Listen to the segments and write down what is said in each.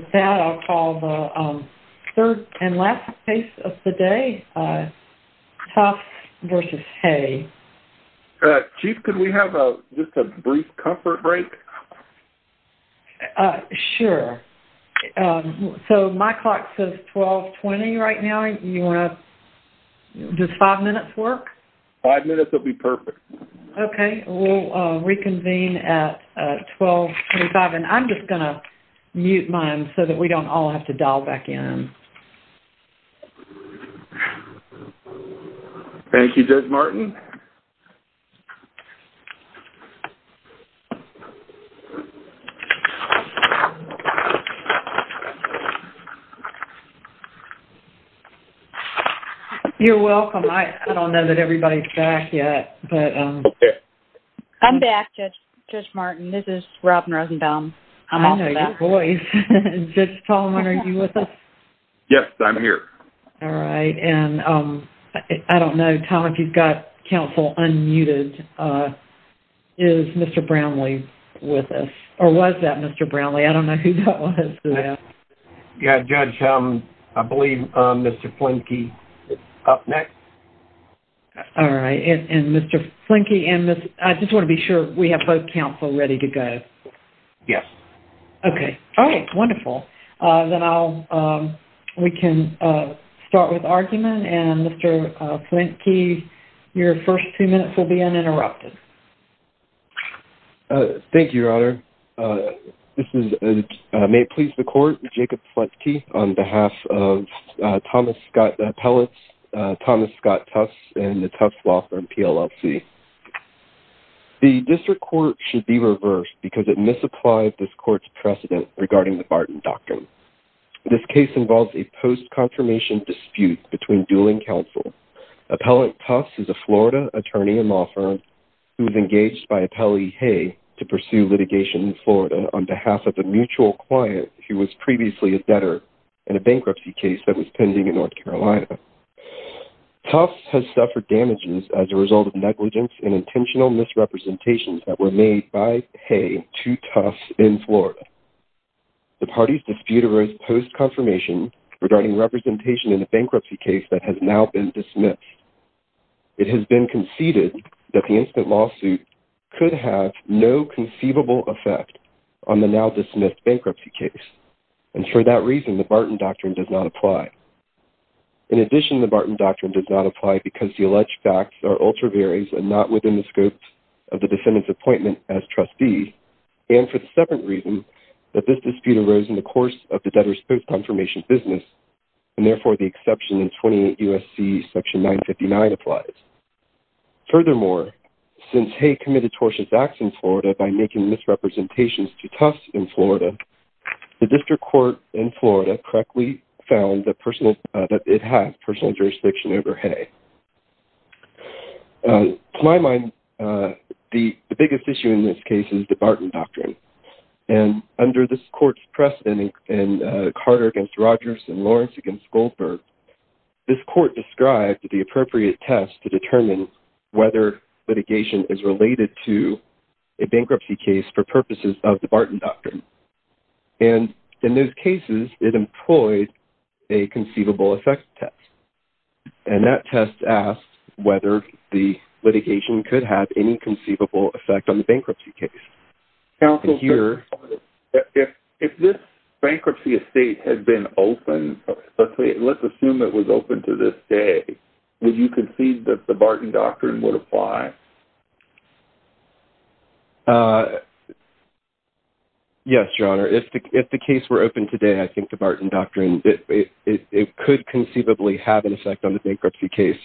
With that, I'll call the third and last case of the day, Tufts v. Hay. Chief, could we have just a brief comfort break? Sure. So my clock says 1220 right now. Does five minutes work? Five minutes will be perfect. Okay. We'll reconvene at 1225. And I'm just going to mute mine so that we don't all have to dial back in. Thank you, Judge Martin. Thank you. You're welcome. I don't know that everybody's back yet. I'm back, Judge Martin. This is Robin Rosenbaum. I'm also back. I know your voice. Judge Tallman, are you with us? Yes, I'm here. All right. And I don't know, Tom, if you've got counsel unmuted. Is Mr. Brownlee with us? Or was that Mr. Brownlee? I don't know who that was. Yeah, Judge, I believe Mr. Flinke is up next. All right. And Mr. Flinke and Ms. – I just want to be sure we have both counsel ready to go. Yes. Okay. All right. Wonderful. Then I'll – we can start with argument. And Mr. Flinke, your first two minutes will be uninterrupted. Thank you, Your Honor. This is – may it please the court, Jacob Flinke on behalf of Thomas Scott Pellitz, Thomas Scott Tufts, and the Tufts Law Firm PLLC. The district court should be reversed because it misapplied this court's precedent regarding the Barton Doctrine. This case involves a post-confirmation dispute between dualing counsel. Appellant Tufts is a Florida attorney and law firm who was engaged by Appellee Hay to pursue litigation in Florida on behalf of a mutual client who was previously a debtor in a bankruptcy case that was pending in North Carolina. Tufts has suffered damages as a result of negligence and intentional misrepresentations that were made by Hay to Tufts in Florida. The parties dispute a post-confirmation regarding representation in a bankruptcy case that has now been dismissed. It has been conceded that the instant lawsuit could have no conceivable effect on the now-dismissed bankruptcy case. And for that reason, the Barton Doctrine does not apply. In addition, the Barton Doctrine does not apply because the alleged facts are ultra-various and not within the scope of the defendant's appointment as trustee. And for the separate reason that this dispute arose in the course of the debtor's post-confirmation business, and therefore the exception in 28 U.S.C. section 959 applies. Furthermore, since Hay committed tortious acts in Florida by making misrepresentations to Tufts in Florida, the district court in Florida correctly found that it has personal jurisdiction over Hay. To my mind, the biggest issue in this case is the Barton Doctrine. And under this court's precedent in Carter v. Rogers and Lawrence v. Goldberg, this court described the appropriate test to determine whether litigation is related to a bankruptcy case for purposes of the Barton Doctrine. And in those cases, it employed a conceivable effect test. And that test asked whether the litigation could have any conceivable effect on the bankruptcy case. Counsel, if this bankruptcy estate had been open, let's assume it was open to this day, would you concede that the Barton Doctrine would apply? Yes, Your Honor. If the case were open today, I think the Barton Doctrine, it could conceivably have an effect on the bankruptcy case,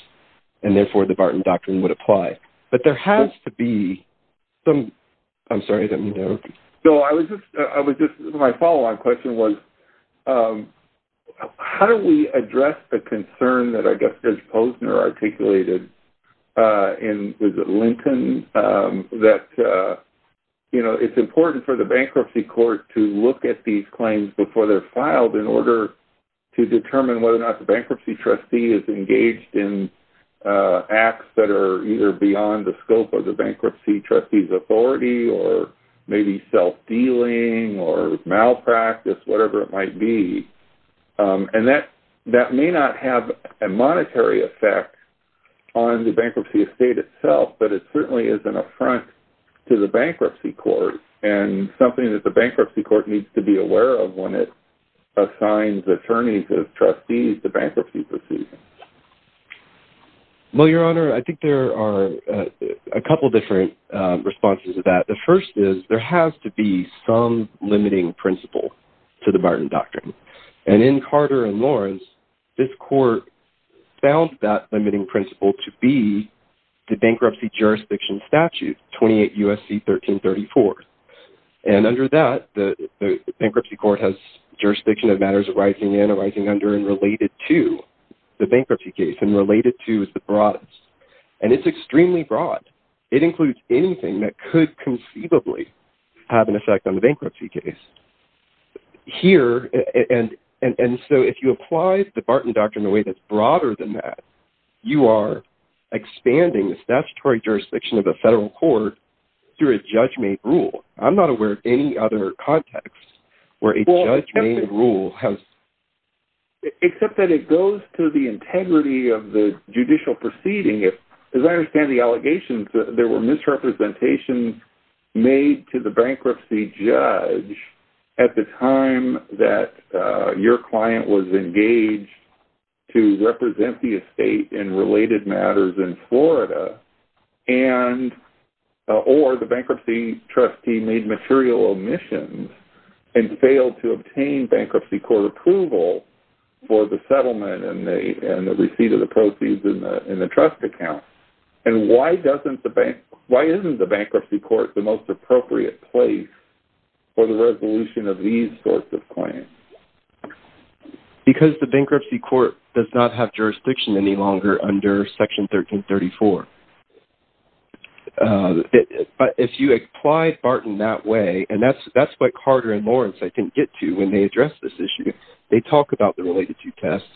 and therefore the Barton Doctrine would apply. But there has to be some... I'm sorry, I didn't mean to interrupt you. No, I was just... My follow-on question was, how do we address the concern that I guess Judge Posner articulated in Lincoln that, you know, it's important for the bankruptcy court to look at these claims before they're filed in order to determine whether or not the bankruptcy trustee is engaged in acts that are either beyond the scope of the bankruptcy trustee's authority or maybe self-dealing or malpractice, whatever it might be. And that may not have a monetary effect on the bankruptcy estate itself, but it certainly is an affront to the bankruptcy court and something that the bankruptcy court needs to be aware of when it assigns attorneys as trustees to bankruptcy proceedings. Well, Your Honor, I think there are a couple different responses to that. The first is, there has to be some limiting principle to the Barton Doctrine. And in Carter and Lawrence, this court found that limiting principle to be the bankruptcy jurisdiction statute, 28 U.S.C. 1334. And under that, the bankruptcy court has jurisdiction of matters arising and arising under and related to the bankruptcy case and related to is the broadest. And it's extremely broad. It includes anything that could conceivably have an effect on the bankruptcy case. And so if you apply the Barton Doctrine in a way that's broader than that, you are expanding the statutory jurisdiction of the federal court through a judge-made rule. I'm not aware of any other context where a judge-made rule has… Except that it goes to the integrity of the judicial proceeding. As I understand the allegations, there were misrepresentations made to the bankruptcy judge at the time that your client was engaged to represent the estate in related matters in Florida or the bankruptcy trustee made material omissions and failed to obtain bankruptcy court approval for the settlement and the receipt of the proceeds in the trust account. And why isn't the bankruptcy court the most appropriate place for the resolution of these sorts of claims? Because the bankruptcy court does not have jurisdiction any longer under Section 1334. But if you apply Barton that way, and that's what Carter and Lawrence, I think, get to when they address this issue. They talk about the related to tests,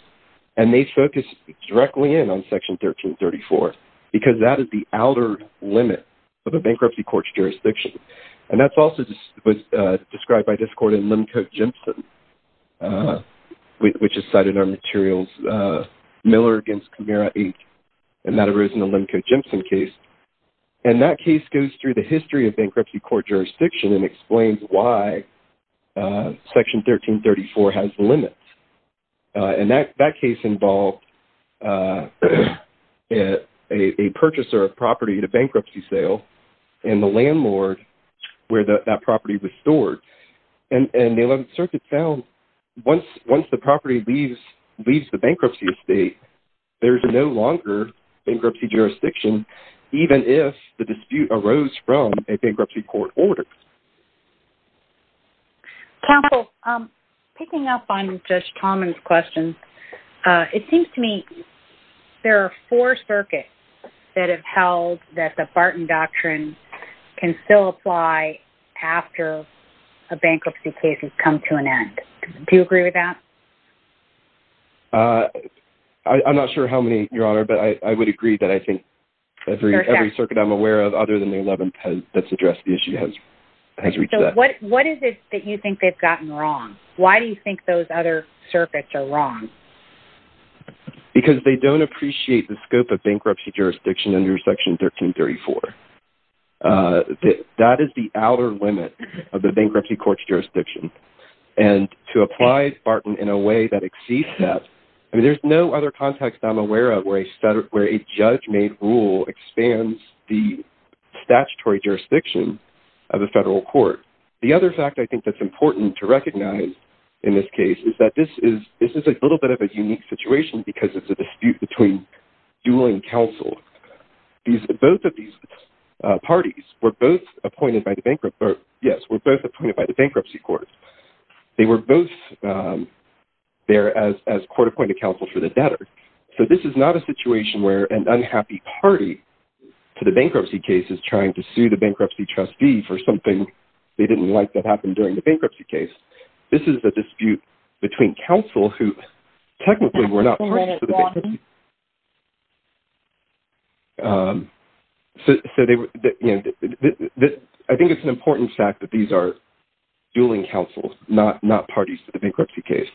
and they focus directly in on Section 1334 because that is the outer limit of a bankruptcy court's jurisdiction. And that's also described by this court in Lemco-Jimpson, which is cited in our materials, Miller v. Camara 8, and that arose in the Lemco-Jimpson case. And that case goes through the history of bankruptcy court jurisdiction and explains why Section 1334 has limits. And that case involved a purchaser of property at a bankruptcy sale and the landlord where that property was stored. And the 11th Circuit found once the property leaves the bankruptcy estate, there is no longer bankruptcy jurisdiction, even if the dispute arose from a bankruptcy court order. Counsel, picking up on Judge Tomlin's question, it seems to me there are four circuits that have held that the Barton Doctrine can still apply after a bankruptcy case has come to an end. Do you agree with that? I'm not sure how many, Your Honor, but I would agree that I think every circuit I'm aware of other than the 11th that's addressed the issue has reached that. So what is it that you think they've gotten wrong? Why do you think those other circuits are wrong? Because they don't appreciate the scope of bankruptcy jurisdiction under Section 1334. And to apply Barton in a way that exceeds that, I mean, there's no other context I'm aware of where a judge-made rule expands the statutory jurisdiction of a federal court. The other fact I think that's important to recognize in this case is that this is a little bit of a unique situation because it's a dispute between dueling counsel. Both of these parties were both appointed by the bankruptcy court. They were both there as court-appointed counsel for the debtor. So this is not a situation where an unhappy party to the bankruptcy case is trying to sue the bankruptcy trustee for something they didn't like that happened during the bankruptcy case. This is a dispute between counsel who technically were not parties to the bankruptcy. So I think it's an important fact that these are dueling counsels, not parties to the bankruptcy case.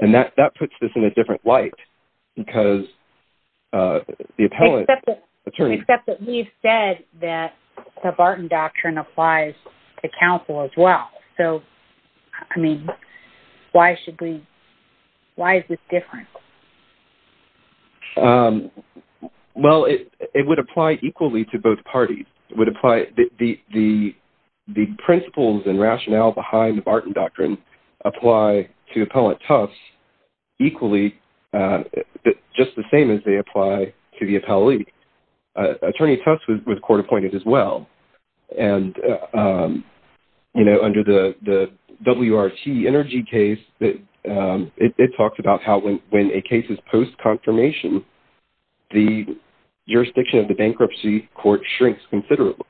And that puts this in a different light because the appellant attorney... Except that we've said that the Barton Doctrine applies to counsel as well. So, I mean, why is this different? Well, it would apply equally to both parties. It would apply... The principles and rationale behind the Barton Doctrine apply to Appellant Tufts equally, just the same as they apply to the appellee. Attorney Tufts was court-appointed as well. And, you know, under the WRT energy case, it talks about how when a case is post-confirmation, the jurisdiction of the bankruptcy court shrinks considerably.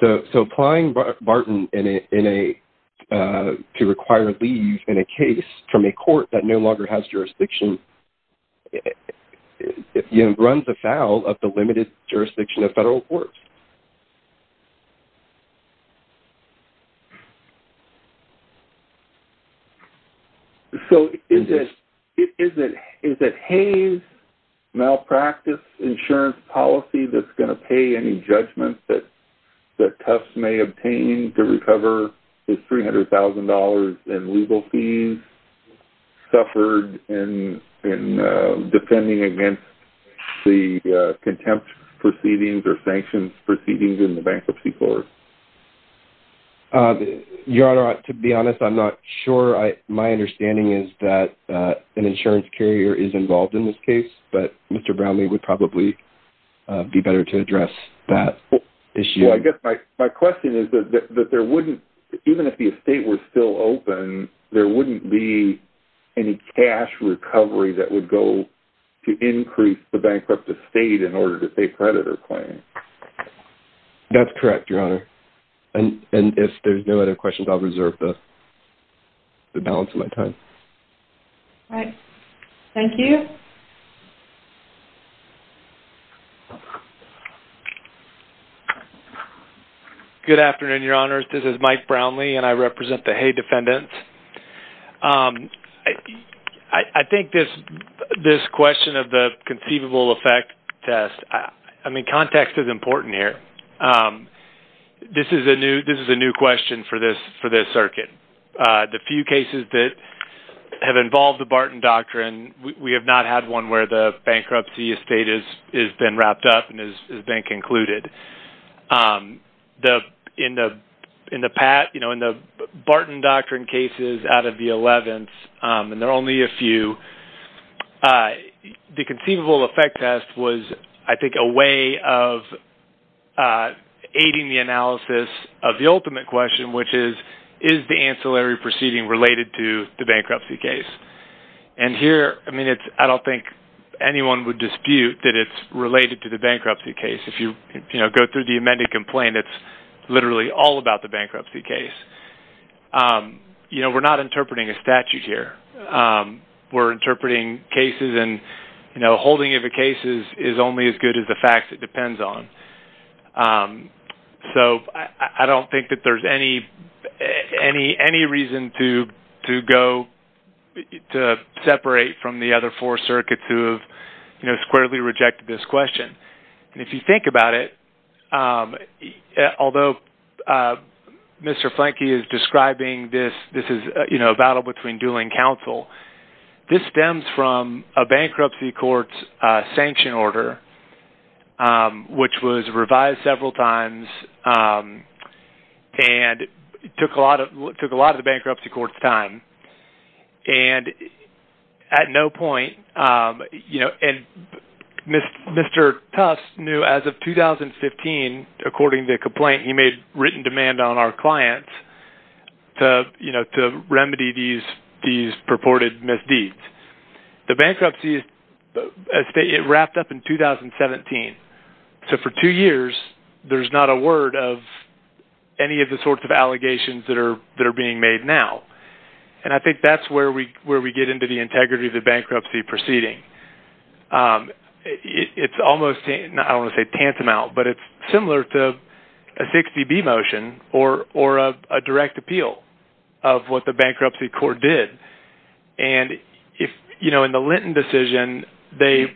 So applying Barton to require leave in a case from a court that no longer has jurisdiction runs afoul of the limited jurisdiction of federal courts. So is it Hayes' malpractice insurance policy that's going to pay any judgment that Tufts may obtain to recover his $300,000 in legal fees suffered in defending against the contempt proceedings or sanctions proceedings in the bankruptcy court? Your Honor, to be honest, I'm not sure. My understanding is that an insurance carrier is involved in this case, but Mr. Brownlee would probably be better to address that issue. Well, I guess my question is that there wouldn't... Even if the estate were still open, there wouldn't be any cash recovery that would go to increase the bankrupt estate in order to pay predator claims. That's correct, Your Honor. And if there's no other questions, I'll reserve the balance of my time. All right. Thank you. Good afternoon, Your Honors. This is Mike Brownlee, and I represent the Haye defendants. I think this question of the conceivable effect test, I mean, context is important here. This is a new question for this circuit. The few cases that have involved the Barton Doctrine, we have not had one where the bankruptcy estate has been wrapped up and has been concluded. In the Barton Doctrine cases out of the 11th, and there are only a few, the conceivable effect test was, I think, a way of aiding the analysis of the ultimate question, which is, is the ancillary proceeding related to the bankruptcy case? And here, I mean, I don't think anyone would dispute that it's related to the bankruptcy case. If you go through the amended complaint, it's literally all about the bankruptcy case. You know, we're not interpreting a statute here. We're interpreting cases, and, you know, holding of the cases is only as good as the facts it depends on. So I don't think that there's any reason to go, to separate from the other four circuits who have, you know, squarely rejected this question. And if you think about it, although Mr. Flanke is describing this, this is, you know, a battle between dueling counsel, this stems from a bankruptcy court's sanction order, which was revised several times, and took a lot of the bankruptcy court's time. And at no point, you know, and Mr. Tusk knew as of 2015, according to the complaint, he made written demand on our client to, you know, to remedy these purported misdeeds. The bankruptcy, it wrapped up in 2017. So for two years, there's not a word of any of the sorts of allegations that are being made now. And I think that's where we get into the integrity of the bankruptcy proceeding. It's almost, I don't want to say tantamount, but it's similar to a 60B motion, or a direct appeal of what the bankruptcy court did. And if, you know, in the Linton decision, they...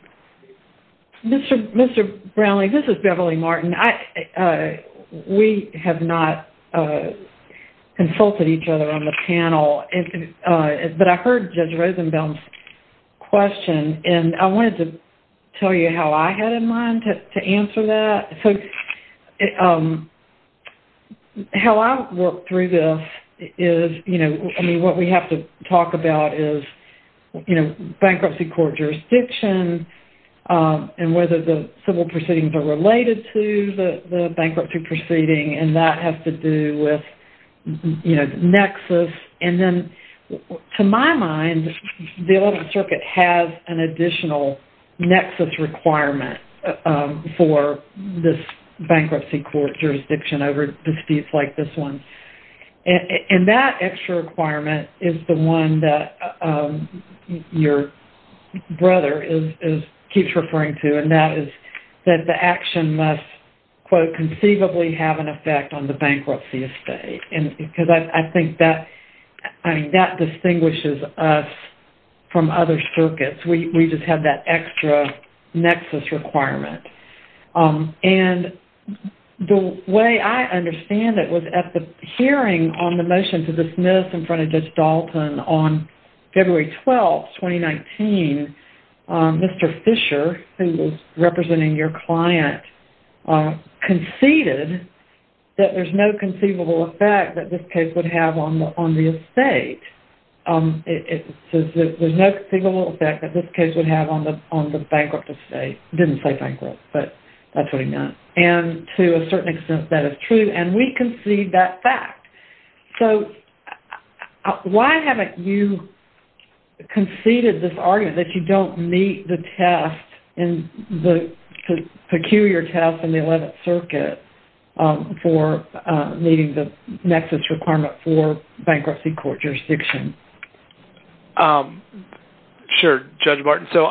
Mr. Brownlee, this is Beverly Martin. We have not consulted each other on the panel, but I heard Judge Rosenbaum's question, and I wanted to tell you how I had in mind to answer that. So how I work through this is, you know, I mean, what we have to talk about is, you know, bankruptcy court jurisdiction, and whether the civil proceedings are related to the bankruptcy proceeding, and that has to do with, you know, the nexus. And then, to my mind, the Eleventh Circuit has an additional nexus requirement for this bankruptcy court jurisdiction over disputes like this one. And that extra requirement is the one that your brother keeps referring to, and that is that the action must, quote, conceivably have an effect on the bankruptcy estate. Because I think that, I mean, that distinguishes us from other circuits. We just have that extra nexus requirement. And the way I understand it was at the hearing on the motion to dismiss in front of Judge Dalton on February 12, 2019, Mr. Fisher, who was representing your client, conceded that there's no conceivable effect that this case would have on the estate. It says there's no conceivable effect that this case would have on the bankrupt estate. Didn't say bankrupt, but that's what he meant. And to a certain extent, that is true, and we concede that fact. So, why haven't you conceded this argument, that you don't meet the test, the peculiar test in the Eleventh Circuit for meeting the nexus requirement for bankruptcy court jurisdiction? Sure, Judge Martin. So,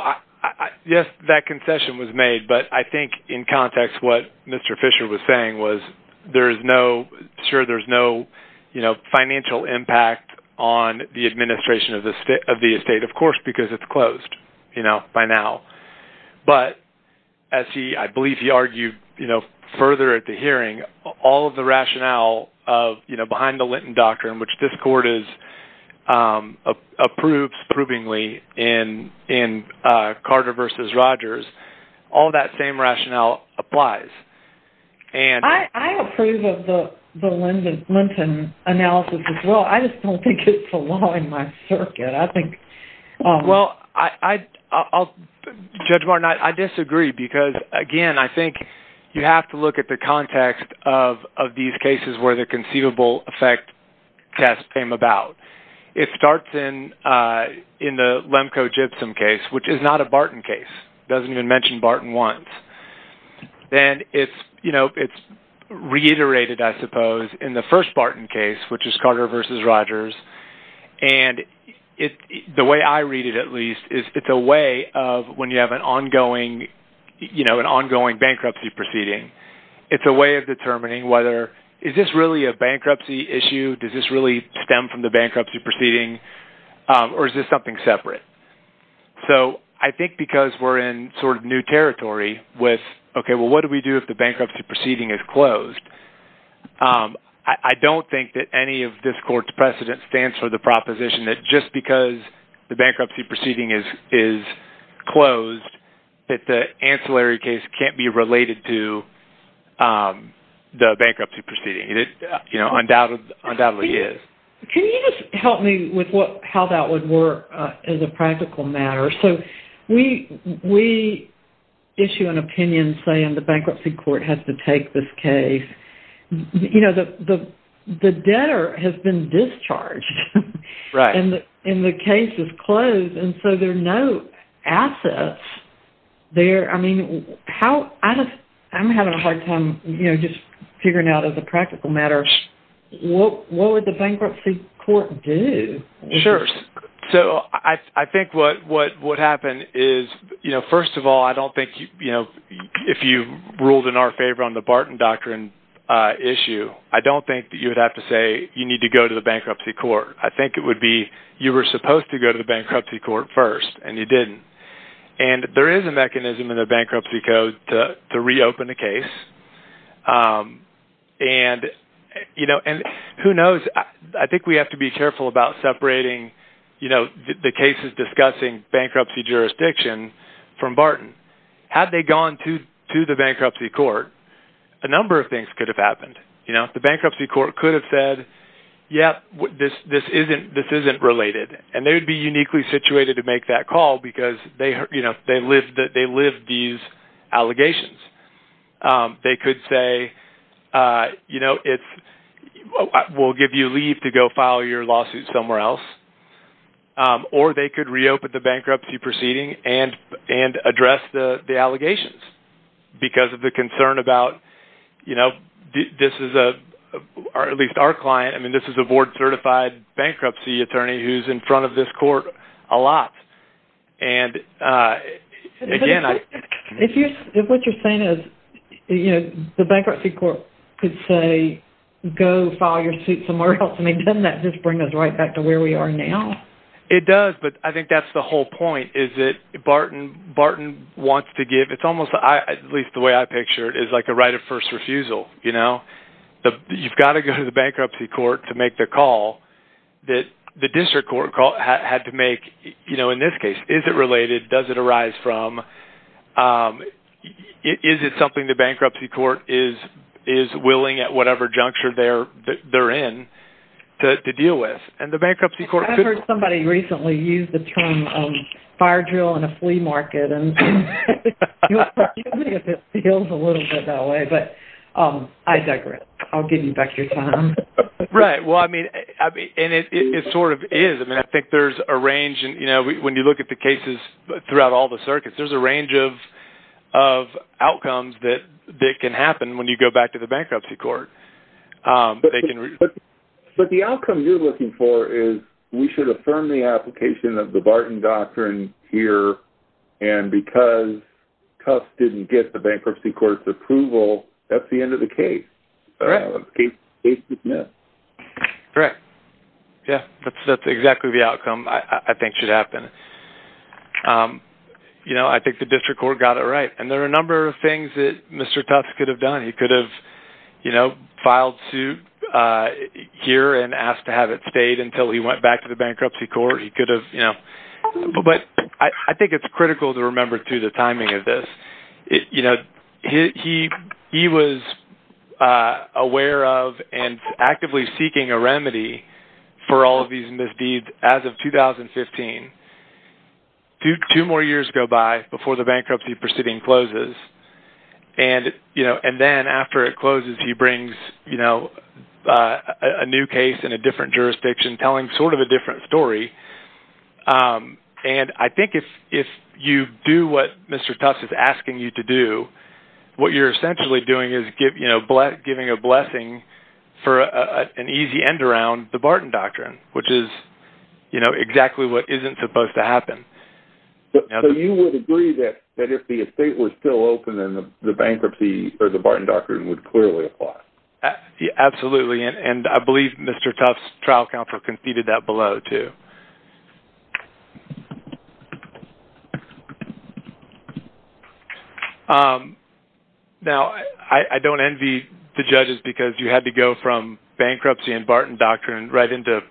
yes, that concession was made, but I think in context what Mr. Fisher was saying was sure, there's no financial impact on the administration of the estate, of course, because it's closed by now. But, as I believe he argued further at the hearing, all of the rationale behind the Linton doctrine, which this court approves provingly in Carter v. Rogers, all that same rationale applies. I approve of the Linton analysis as well. I just don't think it's the law in my circuit. Well, Judge Martin, I disagree because, again, I think you have to look at the context of these cases where the conceivable effect test came about. It starts in the Lemko-Gypsum case, which is not a Barton case. It doesn't even mention Barton once. Then it's reiterated, I suppose, in the first Barton case, which is Carter v. Rogers, and the way I read it, at least, is it's a way of when you have an ongoing bankruptcy proceeding, it's a way of determining whether is this really a bankruptcy issue, does this really stem from the bankruptcy proceeding, or is this something separate? So I think because we're in sort of new territory with, okay, well, what do we do if the bankruptcy proceeding is closed? I don't think that any of this court's precedent stands for the proposition that just because the bankruptcy proceeding is closed that the ancillary case can't be related to the bankruptcy proceeding. It undoubtedly is. Can you just help me with how that would work as a practical matter? We issue an opinion saying the bankruptcy court has to take this case. The debtor has been discharged, and the case is closed, and so there are no assets there. I'm having a hard time just figuring out as a practical matter what would the bankruptcy court do? Sure. So I think what would happen is, first of all, I don't think if you ruled in our favor on the Barton Doctrine issue, I don't think that you would have to say you need to go to the bankruptcy court. I think it would be you were supposed to go to the bankruptcy court first, and you didn't. And who knows? I think we have to be careful about separating the cases discussing bankruptcy jurisdiction from Barton. Had they gone to the bankruptcy court, a number of things could have happened. The bankruptcy court could have said, yes, this isn't related, and they would be uniquely situated to make that call because they lived these allegations. They could say, you know, we'll give you leave to go file your lawsuit somewhere else, or they could reopen the bankruptcy proceeding and address the allegations because of the concern about, you know, this is a board-certified bankruptcy attorney who's in front of this court a lot. And, again, I... If what you're saying is, you know, the bankruptcy court could say, go file your suit somewhere else, I mean, doesn't that just bring us right back to where we are now? It does, but I think that's the whole point, is that Barton wants to give, it's almost, at least the way I picture it, is like a right of first refusal, you know? You've got to go to the bankruptcy court to make the call that the district court had to make, you know, in this case. Is it related? Does it arise from... Is it something the bankruptcy court is willing, at whatever juncture they're in, to deal with? And the bankruptcy court could... I heard somebody recently use the term fire drill in a flea market, and you'll forgive me if it feels a little bit that way, but I digress. I'll give you back your time. Right, well, I mean, and it sort of is. I mean, I think there's a range, and, you know, when you look at the cases throughout all the circuits, there's a range of outcomes that can happen when you go back to the bankruptcy court. But the outcome you're looking for is, we should affirm the application of the Barton doctrine here, and because Cuffs didn't get the bankruptcy court's approval, that's the end of the case. Right. Case is missed. Correct. Yeah, that's exactly the outcome I think should happen. You know, I think the district court got it right, and there are a number of things that Mr. Tufts could have done. He could have, you know, filed suit here and asked to have it stayed until he went back to the bankruptcy court. He could have, you know... But I think it's critical to remember, too, the timing of this. You know, he was aware of and actively seeking a remedy for all of these misdeeds as of 2015. Two more years go by before the bankruptcy proceeding closes, and, you know, and then after it closes, he brings, you know, a new case in a different jurisdiction, telling sort of a different story, and I think if you do what Mr. Tufts is asking you to do, what you're essentially doing is giving a blessing for an easy end around the Barton Doctrine, which is, you know, exactly what isn't supposed to happen. So you would agree that if the estate was still open, then the bankruptcy or the Barton Doctrine would clearly apply? Absolutely, and I believe Mr. Tufts' trial counsel conceded that below, too. Now, I don't envy the judges because you had to go from bankruptcy and Barton Doctrine right into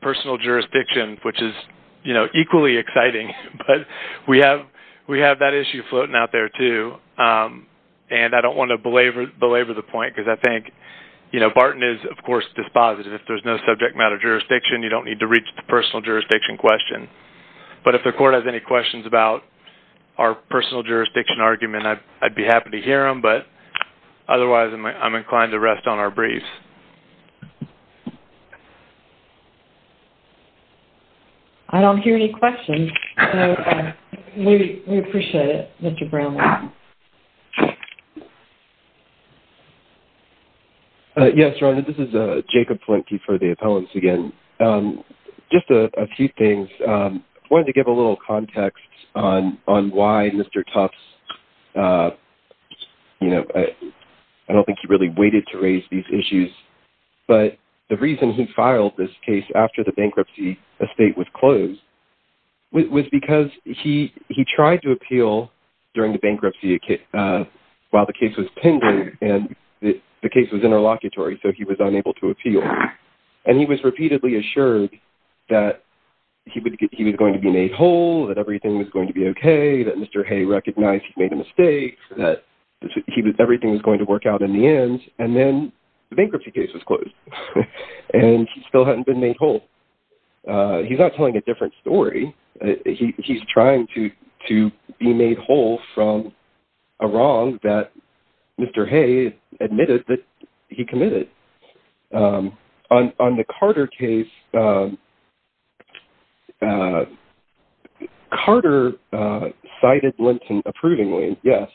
personal jurisdiction, which is, you know, equally exciting, but we have that issue floating out there, too, and I don't want to belabor the point because I think, you know, Barton is, of course, dispositive. If there's no subject matter jurisdiction, you don't need to reach the personal jurisdiction question, but if the court has any questions about our personal jurisdiction argument, I'd be happy to hear them, but otherwise I'm inclined to rest on our briefs. I don't hear any questions, so we appreciate it, Mr. Brownlee. Yes, Rhonda, this is Jacob Flintke for the appellants again. Just a few things. I wanted to give a little context on why Mr. Tufts, you know, I don't think he really waited to raise these issues, but the reason he filed this case after the bankruptcy estate was closed was because he tried to appeal during the bankruptcy while the case was pending, and the case was interlocutory, so he was unable to appeal, and he was repeatedly assured that he was going to be made whole, that everything was going to be OK, that Mr. Hay recognized he'd made a mistake, that everything was going to work out in the end, and then the bankruptcy case was closed, and he still hadn't been made whole. He's not telling a different story. He's trying to be made whole from a wrong that Mr. Hay admitted that he committed. On the Carter case, Carter cited Linton approvingly, yes,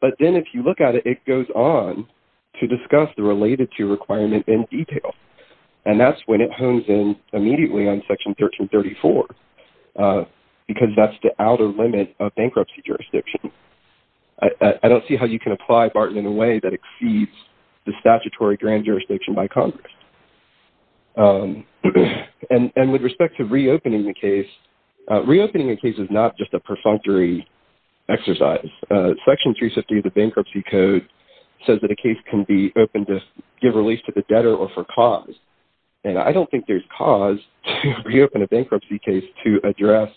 but then if you look at it, it goes on to discuss the related-to requirement in detail, and that's when it hones in immediately on Section 1334 because that's the outer limit of bankruptcy jurisdiction. That exceeds the statutory grand jurisdiction by Congress. And with respect to reopening the case, reopening the case is not just a perfunctory exercise. Section 350 of the Bankruptcy Code says that a case can be opened to give release to the debtor or for cause, and I don't think there's cause to reopen a bankruptcy case to address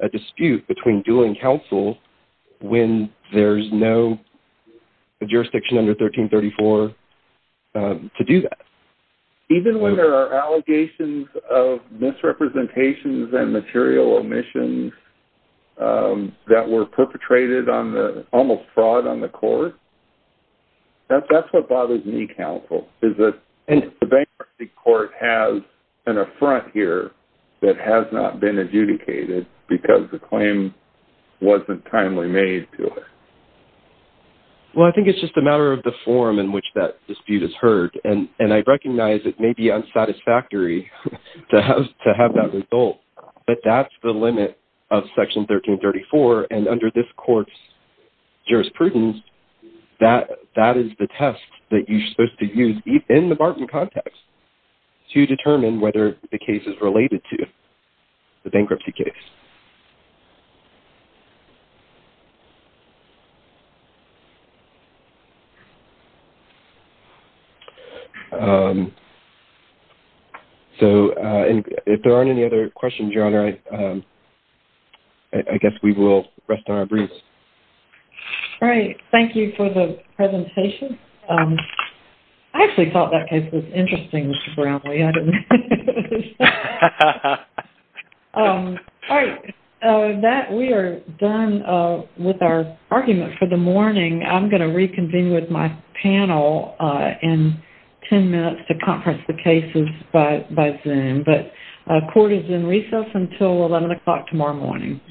a dispute between due and counsel when there's no jurisdiction under 1334 to do that. Even when there are allegations of misrepresentations and material omissions that were perpetrated on the almost fraud on the court, that's what bothers me, counsel, is that the bankruptcy court has an affront here that has not been adjudicated because the claim wasn't timely made to it. Well, I think it's just a matter of the form in which that dispute is heard, and I recognize it may be unsatisfactory to have that result, but that's the limit of Section 1334, and under this court's jurisprudence, that is the test that you're supposed to use in the Barton context to determine whether the case is related to the bankruptcy case. So, if there aren't any other questions, Your Honor, I guess we will rest on our breaths. All right. Thank you for the presentation. I actually thought that case was interesting, Mr. Brownlee. We are done with our argument for the morning. I'm going to reconvene with my panel in 10 minutes to conference the cases by Zoom, but court is in recess until 11 o'clock tomorrow morning.